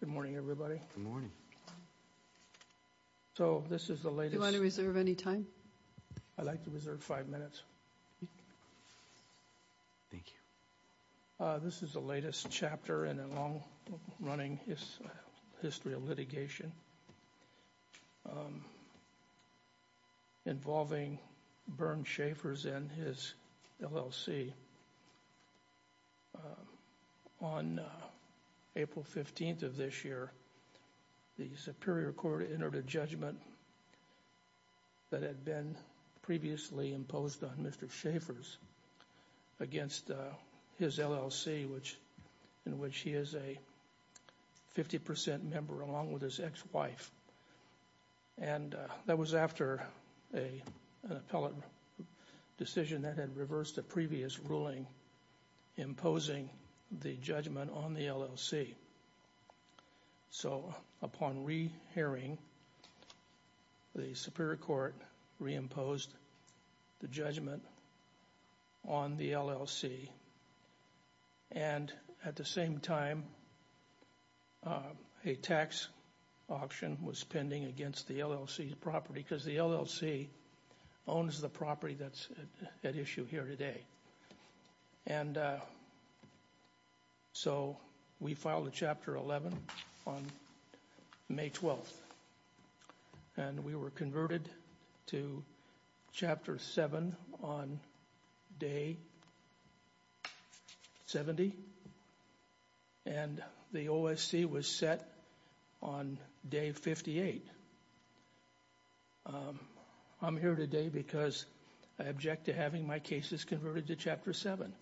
Good morning, everybody. So this is the latest. Do you want to reserve any time? I'd like to reserve five minutes. Thank you. This is the latest chapter in a long-running history of litigation. Involving burn Schaffer's and his LLC. On April 15th of this year, the Superior Court entered a judgment. That had been previously imposed on Mr. Schaffer's against his LLC, which in which he is a 50% member along with his ex-wife and that was after a pellet decision that had reversed the previous ruling imposing the judgment on the LLC. So upon re hearing the Superior Court reimposed the judgment on the LLC. And at the same time, a tax auction was pending against the LLC property because the LLC owns the property that's at issue here today. And so we filed a chapter 11 on May 12th. And we were converted to chapter 7 on day 70 and the OSC was set on day 58. I'm here today because I object to having my cases converted to chapter 7.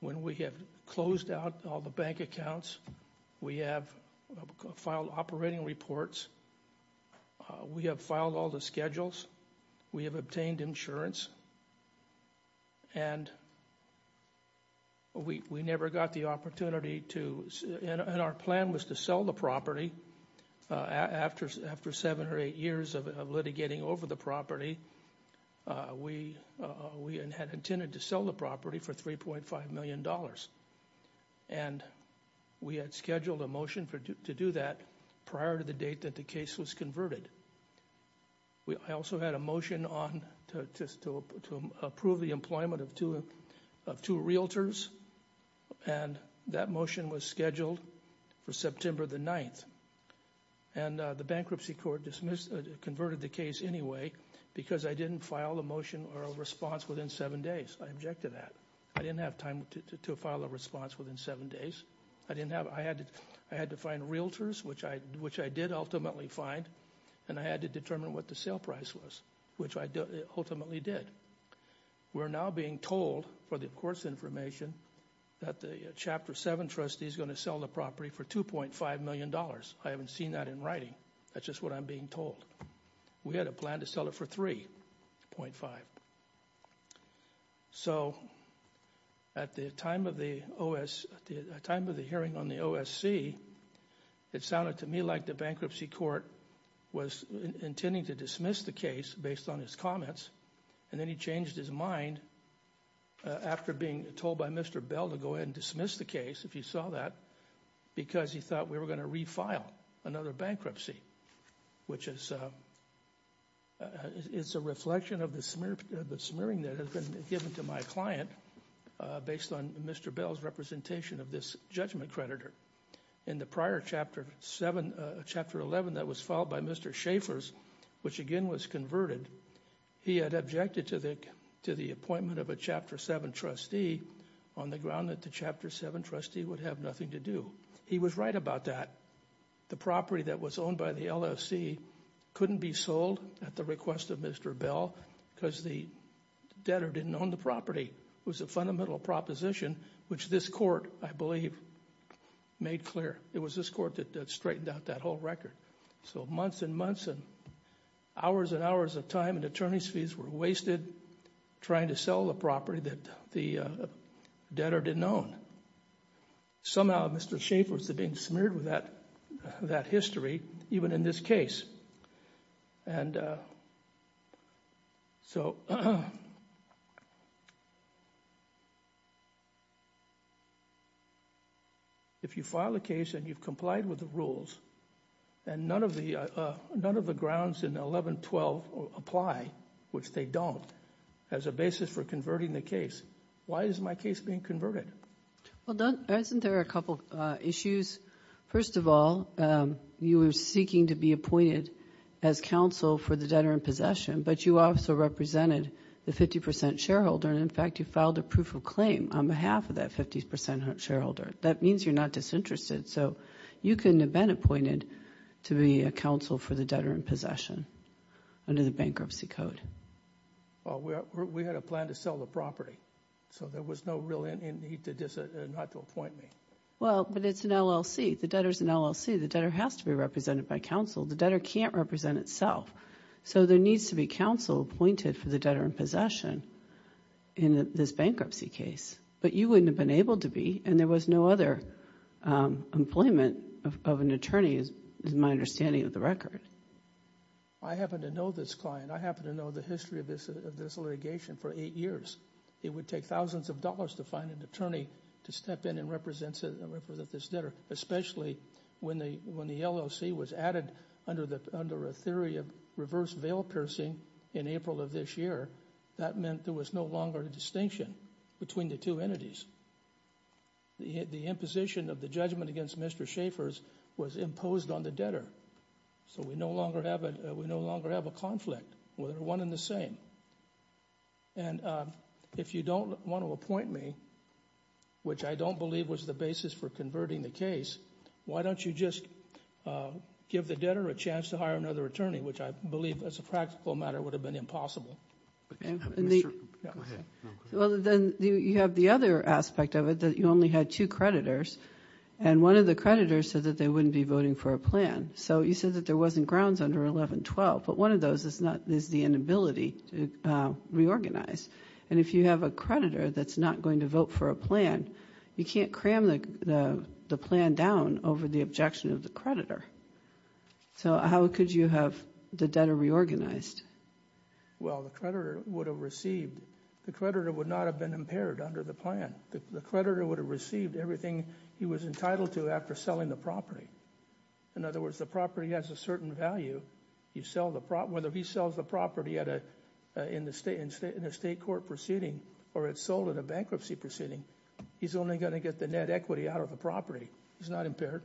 When we have closed out all the bank accounts, we have filed operating reports. We have filed all the schedules. We have obtained insurance. And we never got the opportunity to and our plan was to sell the property after seven or eight years of litigating over the property. We had intended to sell the property for 3.5 million dollars. And we had scheduled a motion for to do that prior to the date that the case was converted. I also had a motion on to approve the employment of two realtors. And that motion was scheduled for September the 9th. And the bankruptcy court converted the case anyway because I didn't file a motion or a response within seven days. I object to that. I didn't have time to file a response within seven days. I had to find realtors, which I did ultimately find. And I had to determine what the sale price was, which I ultimately did. We're now being told, for the court's information, that the chapter 7 trustee is going to sell the property for 2.5 million dollars. I haven't seen that in writing. That's just what I'm being told. We had a plan to sell it for 3.5. So, at the time of the hearing on the OSC, it sounded to me like the bankruptcy court was intending to dismiss the case based on his comments. And then he changed his mind after being told by Mr. Bell to go ahead and dismiss the case, if you saw that. Because he thought we were going to refile another bankruptcy. Which is a reflection of the smearing that has been given to my client, based on Mr. Bell's representation of this judgment creditor. In the prior chapter 11 that was filed by Mr. Schaffer's, which again was converted, he had objected to the appointment of a chapter 7 trustee on the ground that the chapter 7 trustee would have nothing to do. He was right about that. The property that was owned by the LSC couldn't be sold at the request of Mr. Bell, because the debtor didn't own the property. It was a fundamental proposition, which this court, I believe, made clear. It was this court that straightened out that whole record. So, months and months and hours and hours of time and attorney's fees were wasted trying to sell the property that the debtor didn't own. Somehow, Mr. Schaffer's had been smeared with that history, even in this case. If you file a case and you've complied with the rules, and none of the grounds in 11-12 apply, which they don't, as a basis for converting the case, why is my case being converted? Well, Doug, isn't there a couple issues? First of all, you were seeking to be appointed as counsel for the debtor in possession, but you also represented the 50% shareholder, and in fact, you filed a proof of claim on behalf of that 50% shareholder. That means you're not disinterested. So, you couldn't have been appointed to be a counsel for the debtor in possession under the bankruptcy code. Well, we had a plan to sell the property. So, there was no real need not to appoint me. Well, but it's an LLC. The debtor's an LLC. The debtor has to be represented by counsel. The debtor can't represent itself. So, there needs to be counsel appointed for the debtor in possession in this bankruptcy case, but you wouldn't have been able to be, and there was no other employment of an attorney, is my understanding of the record. I happen to know this client. I happen to know the history of this litigation for eight years. It would take thousands of dollars to find an attorney to step in and represent this debtor, especially when the LLC was added under a theory of reverse veil piercing in April of this year. That meant there was no longer a distinction between the two entities. The imposition of the judgment against Mr. Schaffer's was imposed on the debtor. So, we no longer have a conflict. We're one and the same. And if you don't want to appoint me, which I don't believe was the basis for converting the case, why don't you just give the debtor a chance to hire another attorney, which I believe as a practical matter would have been impossible. Well, then you have the other aspect of it that you only had two creditors, and one of the creditors said that they wouldn't be voting for a plan. So, you said that there wasn't grounds under 1112, but one of those is the inability to reorganize. And if you have a creditor that's not going to vote for a plan, you can't cram the plan down over the objection of the creditor. So, how could you have the debtor reorganized? Well, the creditor would have received. The creditor would not have been impaired under the plan. The creditor would have received everything he was entitled to after selling the property. In other words, the property has a certain value. Whether he sells the property in a state court proceeding or it's sold in a bankruptcy proceeding, he's only going to get the net equity out of the property. He's not impaired.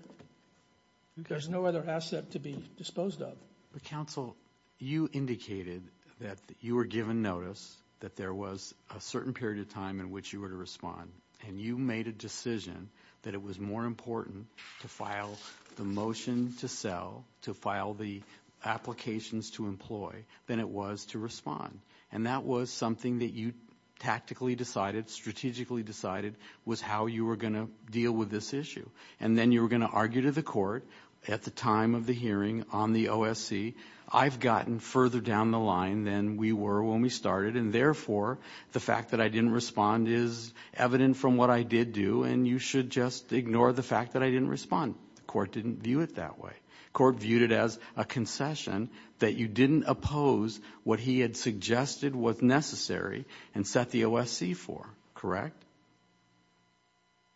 There's no other asset to be disposed of. But counsel, you indicated that you were given notice that there was a certain period of time in which you were to respond, and you made a decision that it was more important to file the motion to sell, to file the applications to employ, than it was to respond. And that was something that you tactically decided, strategically decided, was how you were going to deal with this issue. And then you were going to argue to the court at the time of the hearing on the OSC, I've gotten further down the line than we were when we started, and therefore, the fact that I didn't respond is evident from what I did do, and you should just ignore the fact that I didn't respond. The court didn't view it that way. The court viewed it as a concession that you didn't oppose what he had suggested was necessary and set the OSC for, correct?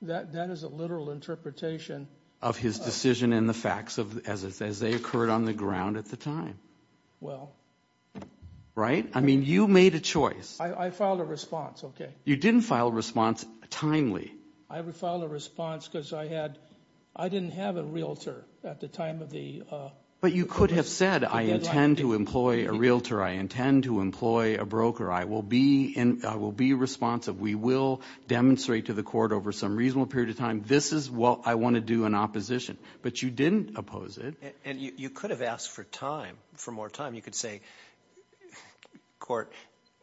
That is a literal interpretation. Of his decision and the facts as they occurred on the ground at the time. Well. Right? I mean, you made a choice. I filed a response, okay. You didn't file a response timely. I filed a response because I had, I didn't have a realtor at the time of the. But you could have said, I intend to employ a realtor. I intend to employ a broker. I will be responsive. We will demonstrate to the court over some reasonable period of time, this is what I want to do in opposition. But you didn't oppose it. And you could have asked for time, for more time. You could say, court,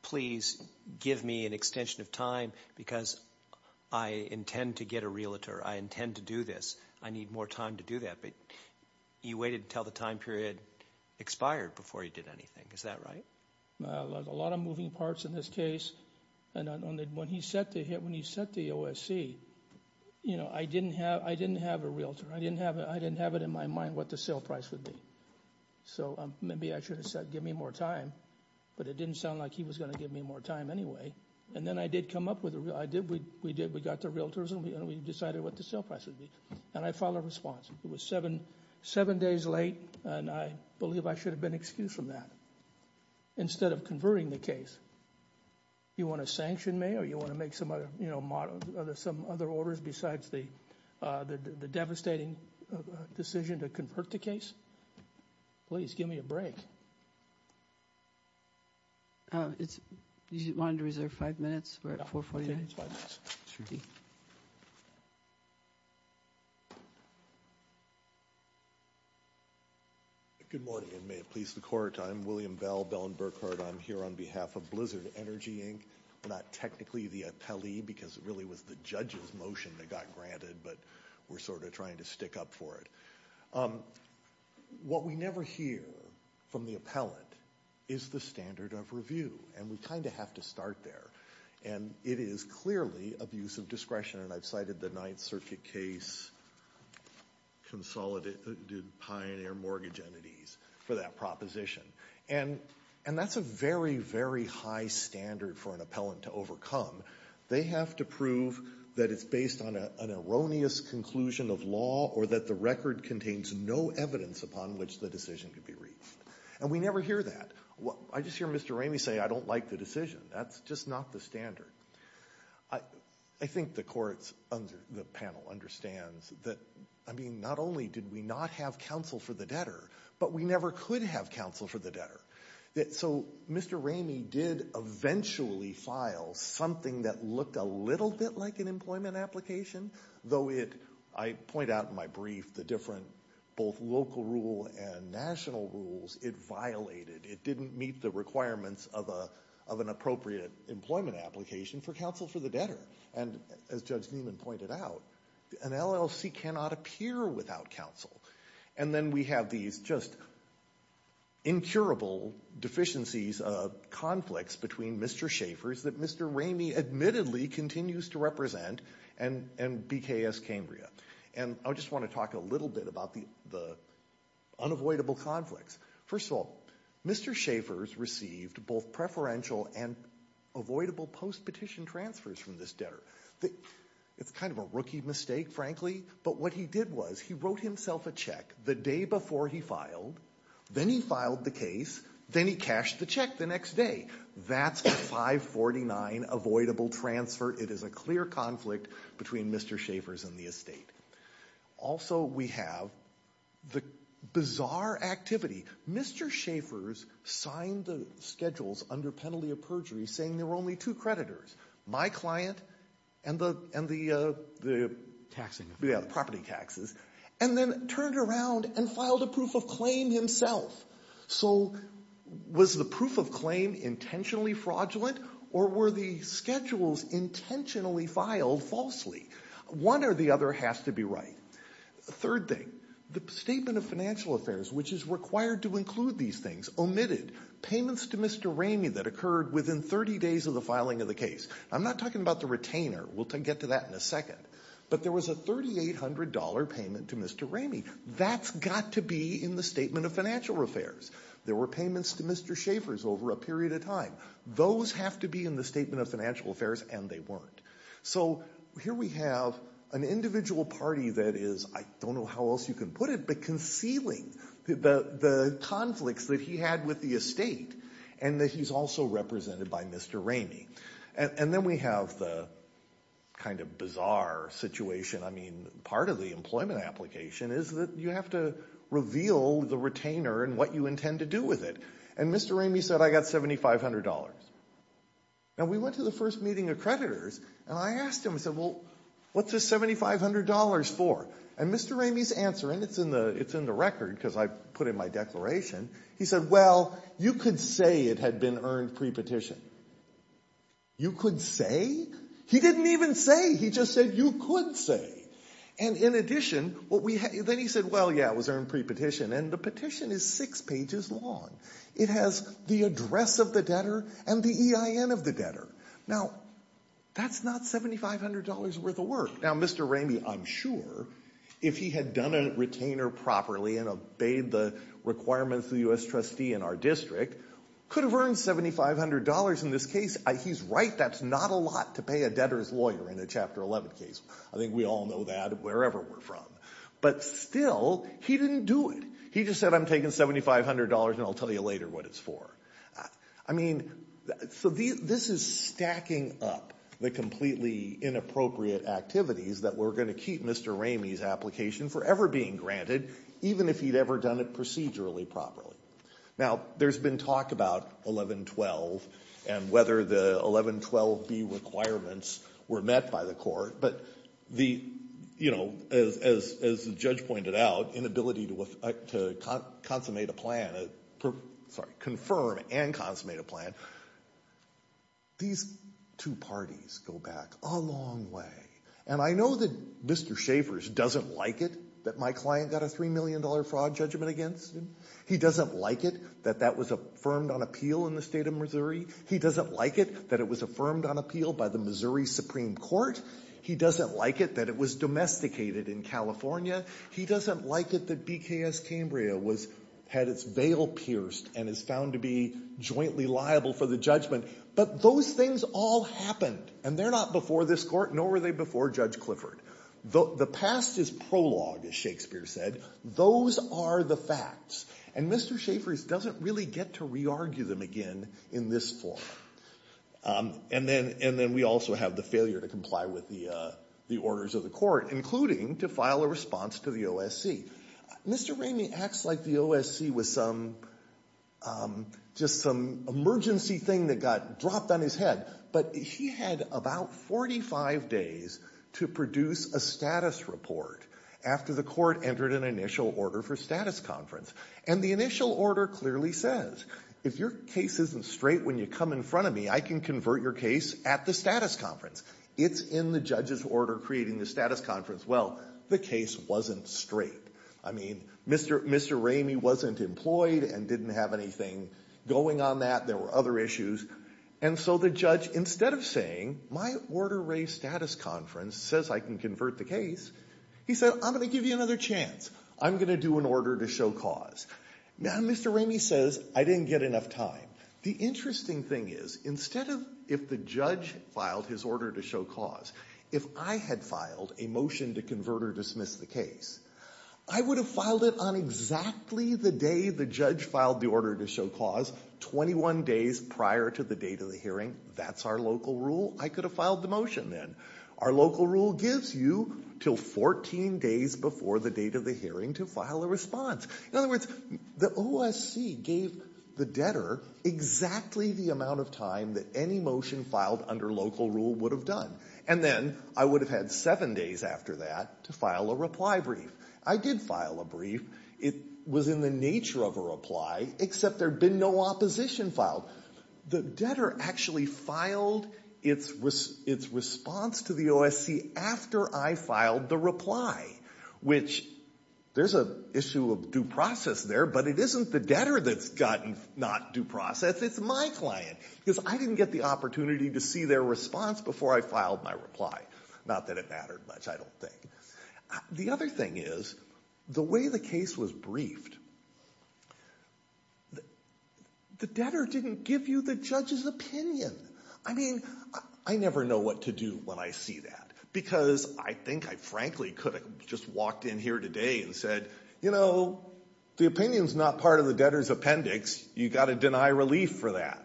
please give me an extension of time because I intend to get a realtor. I intend to do this. I need more time to do that. But you waited until the time period expired before you did anything. Is that right? A lot of moving parts in this case. And when he set the OSC, you know, I didn't have a realtor. I didn't have it in my mind what the sale price would be. So maybe I should have said give me more time. But it didn't sound like he was going to give me more time anyway. And then I did come up with a realtor. We got the realtors and we decided what the sale price would be. And I filed a response. It was seven days late, and I believe I should have been excused from that. Instead of converting the case, you want to sanction me or you want to make some other orders besides the devastating decision to convert the case? Please give me a break. Do you want to reserve five minutes? We're at 4.49. Five minutes. Sure. Good morning, and may it please the Court. I'm William Bell, Bell and Burkhardt. I'm here on behalf of Blizzard Energy, Inc., not technically the appellee because it really was the judge's motion that got granted, but we're sort of trying to stick up for it. What we never hear from the appellant is the standard of review, and we kind of have to start there. And it is clearly abuse of discretion, and I've cited the Ninth Circuit case, Consolidated Pioneer Mortgage Entities, for that proposition. And that's a very, very high standard for an appellant to overcome. They have to prove that it's based on an erroneous conclusion of law or that the record contains no evidence upon which the decision could be reached. And we never hear that. I just hear Mr. Ramey say, I don't like the decision. That's just not the standard. I think the panel understands that, I mean, not only did we not have counsel for the debtor, but we never could have counsel for the debtor. So Mr. Ramey did eventually file something that looked a little bit like an employment application, though I point out in my brief the different both local rule and national rules it violated. It didn't meet the requirements of an appropriate employment application for counsel for the debtor. And as Judge Nieman pointed out, an LLC cannot appear without counsel. And then we have these just incurable deficiencies, conflicts between Mr. Schaffer's that Mr. Ramey admittedly continues to represent and BKS Cambria. And I just want to talk a little bit about the unavoidable conflicts. First of all, Mr. Schaffer's received both preferential and avoidable post-petition transfers from this debtor. It's kind of a rookie mistake, frankly, but what he did was he wrote himself a check the day before he filed. Then he filed the case. Then he cashed the check the next day. That's a 549 avoidable transfer. It is a clear conflict between Mr. Schaffer's and the estate. Also we have the bizarre activity. Mr. Schaffer's signed the schedules under penalty of perjury saying there were only two creditors, my client and the property taxes, and then turned around and filed a proof of claim himself. So was the proof of claim intentionally fraudulent or were the schedules intentionally filed falsely? One or the other has to be right. Third thing, the Statement of Financial Affairs, which is required to include these things, omitted payments to Mr. Ramey that occurred within 30 days of the filing of the case. I'm not talking about the retainer. We'll get to that in a second. But there was a $3,800 payment to Mr. Ramey. That's got to be in the Statement of Financial Affairs. There were payments to Mr. Schaffer's over a period of time. Those have to be in the Statement of Financial Affairs, and they weren't. So here we have an individual party that is, I don't know how else you can put it, but concealing the conflicts that he had with the estate and that he's also represented by Mr. Ramey. And then we have the kind of bizarre situation. I mean, part of the employment application is that you have to reveal the retainer and what you intend to do with it. And Mr. Ramey said, I got $7,500. Now, we went to the first meeting of creditors, and I asked him, I said, well, what's this $7,500 for? And Mr. Ramey's answer, and it's in the record because I put it in my declaration, he said, well, you could say it had been earned pre-petition. You could say? He didn't even say. He just said you could say. And in addition, then he said, well, yeah, it was earned pre-petition. And the petition is six pages long. It has the address of the debtor and the EIN of the debtor. Now, that's not $7,500 worth of work. Now, Mr. Ramey, I'm sure if he had done a retainer properly and obeyed the requirements of the U.S. trustee in our district, could have earned $7,500 in this case. He's right. That's not a lot to pay a debtor's lawyer in a Chapter 11 case. I think we all know that wherever we're from. But still, he didn't do it. He just said I'm taking $7,500 and I'll tell you later what it's for. I mean, so this is stacking up the completely inappropriate activities that were going to keep Mr. Ramey's application forever being granted, even if he'd ever done it procedurally properly. Now, there's been talk about 1112 and whether the 1112B requirements were met by the court. But the, you know, as the judge pointed out, inability to consummate a plan, sorry, confirm and consummate a plan, these two parties go back a long way. And I know that Mr. Schaffer's doesn't like it that my client got a $3 million fraud judgment against him. He doesn't like it that that was affirmed on appeal in the state of Missouri. He doesn't like it that it was affirmed on appeal by the Missouri Supreme Court. He doesn't like it that it was domesticated in California. He doesn't like it that BKS Cambria had its veil pierced and is found to be jointly liable for the judgment. But those things all happened. And they're not before this court, nor were they before Judge Clifford. The past is prologue, as Shakespeare said. Those are the facts. And Mr. Schaffer's doesn't really get to re-argue them again in this form. And then we also have the failure to comply with the orders of the court, including to file a response to the OSC. Mr. Ramey acts like the OSC was some, just some emergency thing that got dropped on his head. But he had about 45 days to produce a status report after the court entered an initial order for status conference. And the initial order clearly says, if your case isn't straight when you come in front of me, I can convert your case at the status conference. It's in the judge's order creating the status conference. Well, the case wasn't straight. I mean, Mr. Ramey wasn't employed and didn't have anything going on that. There were other issues. And so the judge, instead of saying, my order raised status conference says I can convert the case, he said, I'm going to give you another chance. I'm going to do an order to show cause. Now, Mr. Ramey says, I didn't get enough time. The interesting thing is, instead of if the judge filed his order to show cause, if I had filed a motion to convert or dismiss the case, I would have filed it on exactly the day the judge filed the order to show cause, 21 days prior to the date of the hearing. That's our local rule. I could have filed the motion then. Our local rule gives you until 14 days before the date of the hearing to file a response. In other words, the OSC gave the debtor exactly the amount of time that any motion filed under local rule would have done. And then I would have had seven days after that to file a reply brief. I did file a brief. It was in the nature of a reply, except there had been no opposition filed. The debtor actually filed its response to the OSC after I filed the reply, which there's an issue of due process there, but it isn't the debtor that's gotten not due process. It's my client. Because I didn't get the opportunity to see their response before I filed my reply. Not that it mattered much, I don't think. The other thing is, the way the case was briefed, the debtor didn't give you the judge's opinion. I mean, I never know what to do when I see that because I think I frankly could have just walked in here today and said, you know, the opinion's not part of the debtor's appendix. You've got to deny relief for that.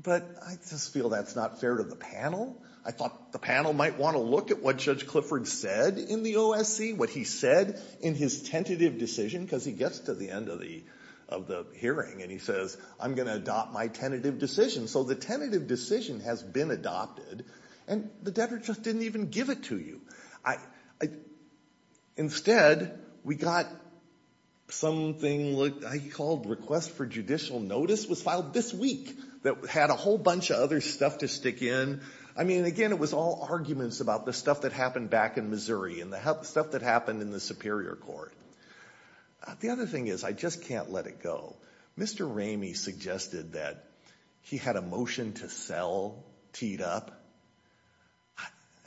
But I just feel that's not fair to the panel. I thought the panel might want to look at what Judge Clifford said in the OSC, what he said in his tentative decision, because he gets to the end of the hearing and he says, I'm going to adopt my tentative decision. So the tentative decision has been adopted, and the debtor just didn't even give it to you. Instead, we got something I called request for judicial notice was filed this week that had a whole bunch of other stuff to stick in. I mean, again, it was all arguments about the stuff that happened back in Missouri and the stuff that happened in the Superior Court. The other thing is, I just can't let it go. Mr. Ramey suggested that he had a motion to sell teed up.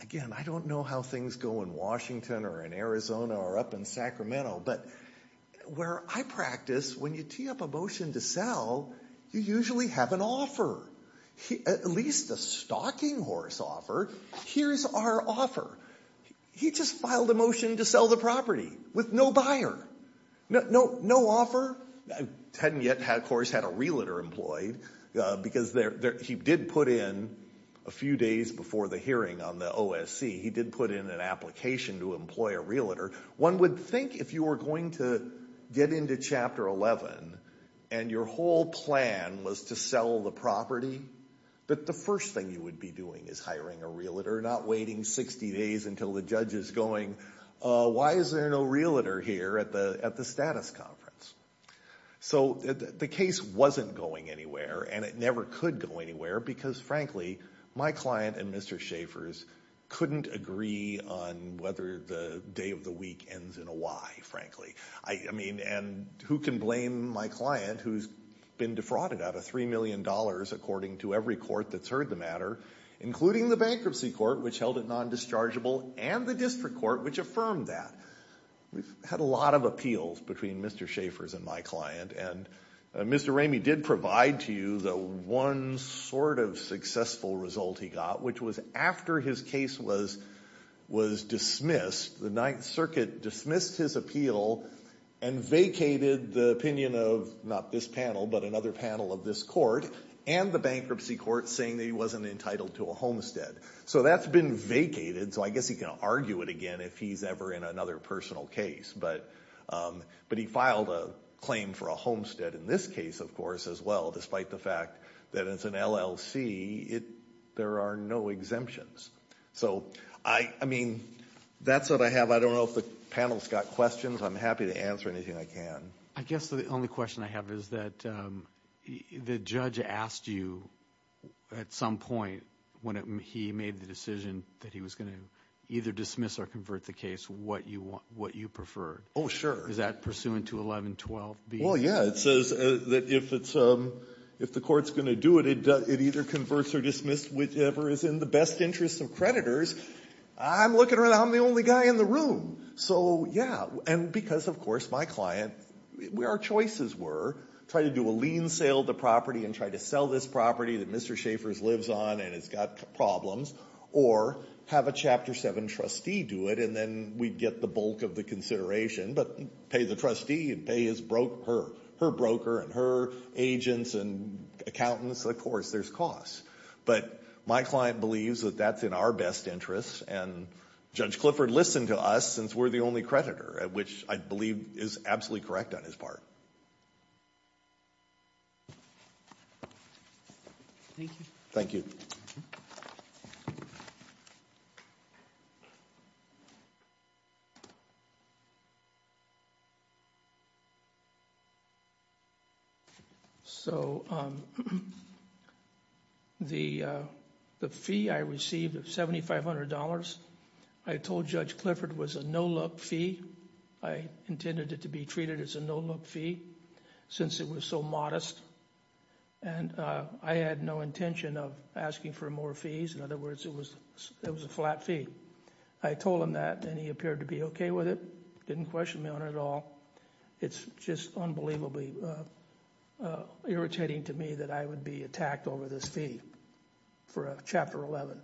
Again, I don't know how things go in Washington or in Arizona or up in Sacramento, but where I practice, when you tee up a motion to sell, you usually have an offer, at least a stocking horse offer. Here's our offer. He just filed a motion to sell the property with no buyer, no offer. Hadn't yet, of course, had a realtor employed, because he did put in a few days before the hearing on the OSC, he did put in an application to employ a realtor. One would think if you were going to get into Chapter 11 and your whole plan was to sell the property, that the first thing you would be doing is hiring a realtor, not waiting 60 days until the judge is going, why is there no realtor here at the status conference? So the case wasn't going anywhere, and it never could go anywhere, because frankly, my client and Mr. Schaffer's couldn't agree on whether the day of the week ends in a Y, frankly. I mean, and who can blame my client, who's been defrauded out of $3 million, according to every court that's heard the matter, including the Bankruptcy Court, which held it non-dischargeable, and the District Court, which affirmed that. We've had a lot of appeals between Mr. Schaffer's and my client, and Mr. Ramey did provide to you the one sort of successful result he got, which was after his case was dismissed, the Ninth Circuit dismissed his appeal and vacated the opinion of not this panel, but another panel of this court, and the Bankruptcy Court, saying that he wasn't entitled to a homestead. So that's been vacated, so I guess he can argue it again if he's ever in another personal case. But he filed a claim for a homestead in this case, of course, as well, despite the fact that it's an LLC, there are no exemptions. So I mean, that's what I have. I don't know if the panel's got questions. I'm happy to answer anything I can. I guess the only question I have is that the judge asked you at some point, when he made the decision that he was going to either dismiss or convert the case, what you preferred. Oh, sure. Is that pursuant to 1112B? Well, yeah. It says that if the court's going to do it, it either converts or dismisses whichever is in the best interest of creditors. I'm looking around, I'm the only guy in the room. So, yeah, and because, of course, my client, our choices were try to do a lien sale of the property and try to sell this property that Mr. Schaffer lives on and has got problems, or have a Chapter 7 trustee do it, and then we'd get the bulk of the consideration. But pay the trustee and pay her broker and her agents and accountants. Of course, there's costs. But my client believes that that's in our best interest. And Judge Clifford listened to us since we're the only creditor, which I believe is absolutely correct on his part. Thank you. Thank you. So the fee I received of $7,500, I told Judge Clifford it was a no-look fee. I intended it to be treated as a no-look fee since it was so modest. And I had no intention of asking for more fees. In other words, it was a flat fee. I told him that and he appeared to be okay with it, didn't question me on it at all. It's just unbelievably irritating to me that I would be attacked over this fee for a Chapter 11.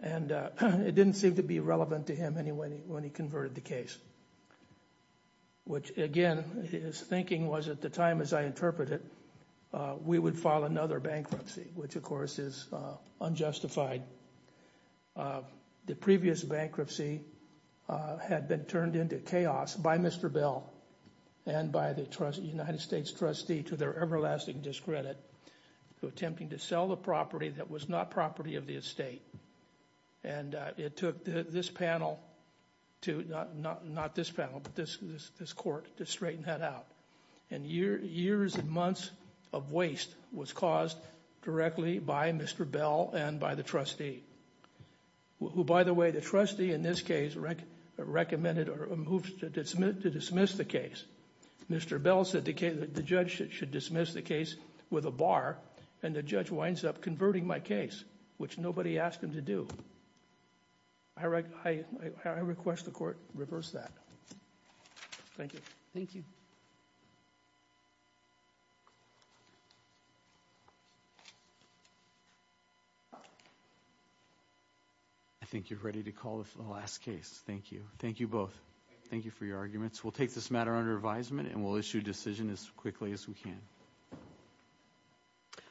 And it didn't seem to be relevant to him when he converted the case. Which, again, his thinking was at the time, as I interpret it, we would file another bankruptcy, which, of course, is unjustified. The previous bankruptcy had been turned into chaos by Mr. Bell and by the United States trustee to their everlasting discredit, attempting to sell the property that was not property of the estate. And it took this panel to, not this panel, but this court to straighten that out. And years and months of waste was caused directly by Mr. Bell and by the trustee. Who, by the way, the trustee in this case recommended or moved to dismiss the case. Mr. Bell said the judge should dismiss the case with a bar and the judge winds up converting my case, which nobody asked him to do. I request the court reverse that. Thank you. Thank you. I think you're ready to call the last case. Thank you. Thank you both. Thank you for your arguments. We'll take this matter under advisement and we'll issue a decision as quickly as we can.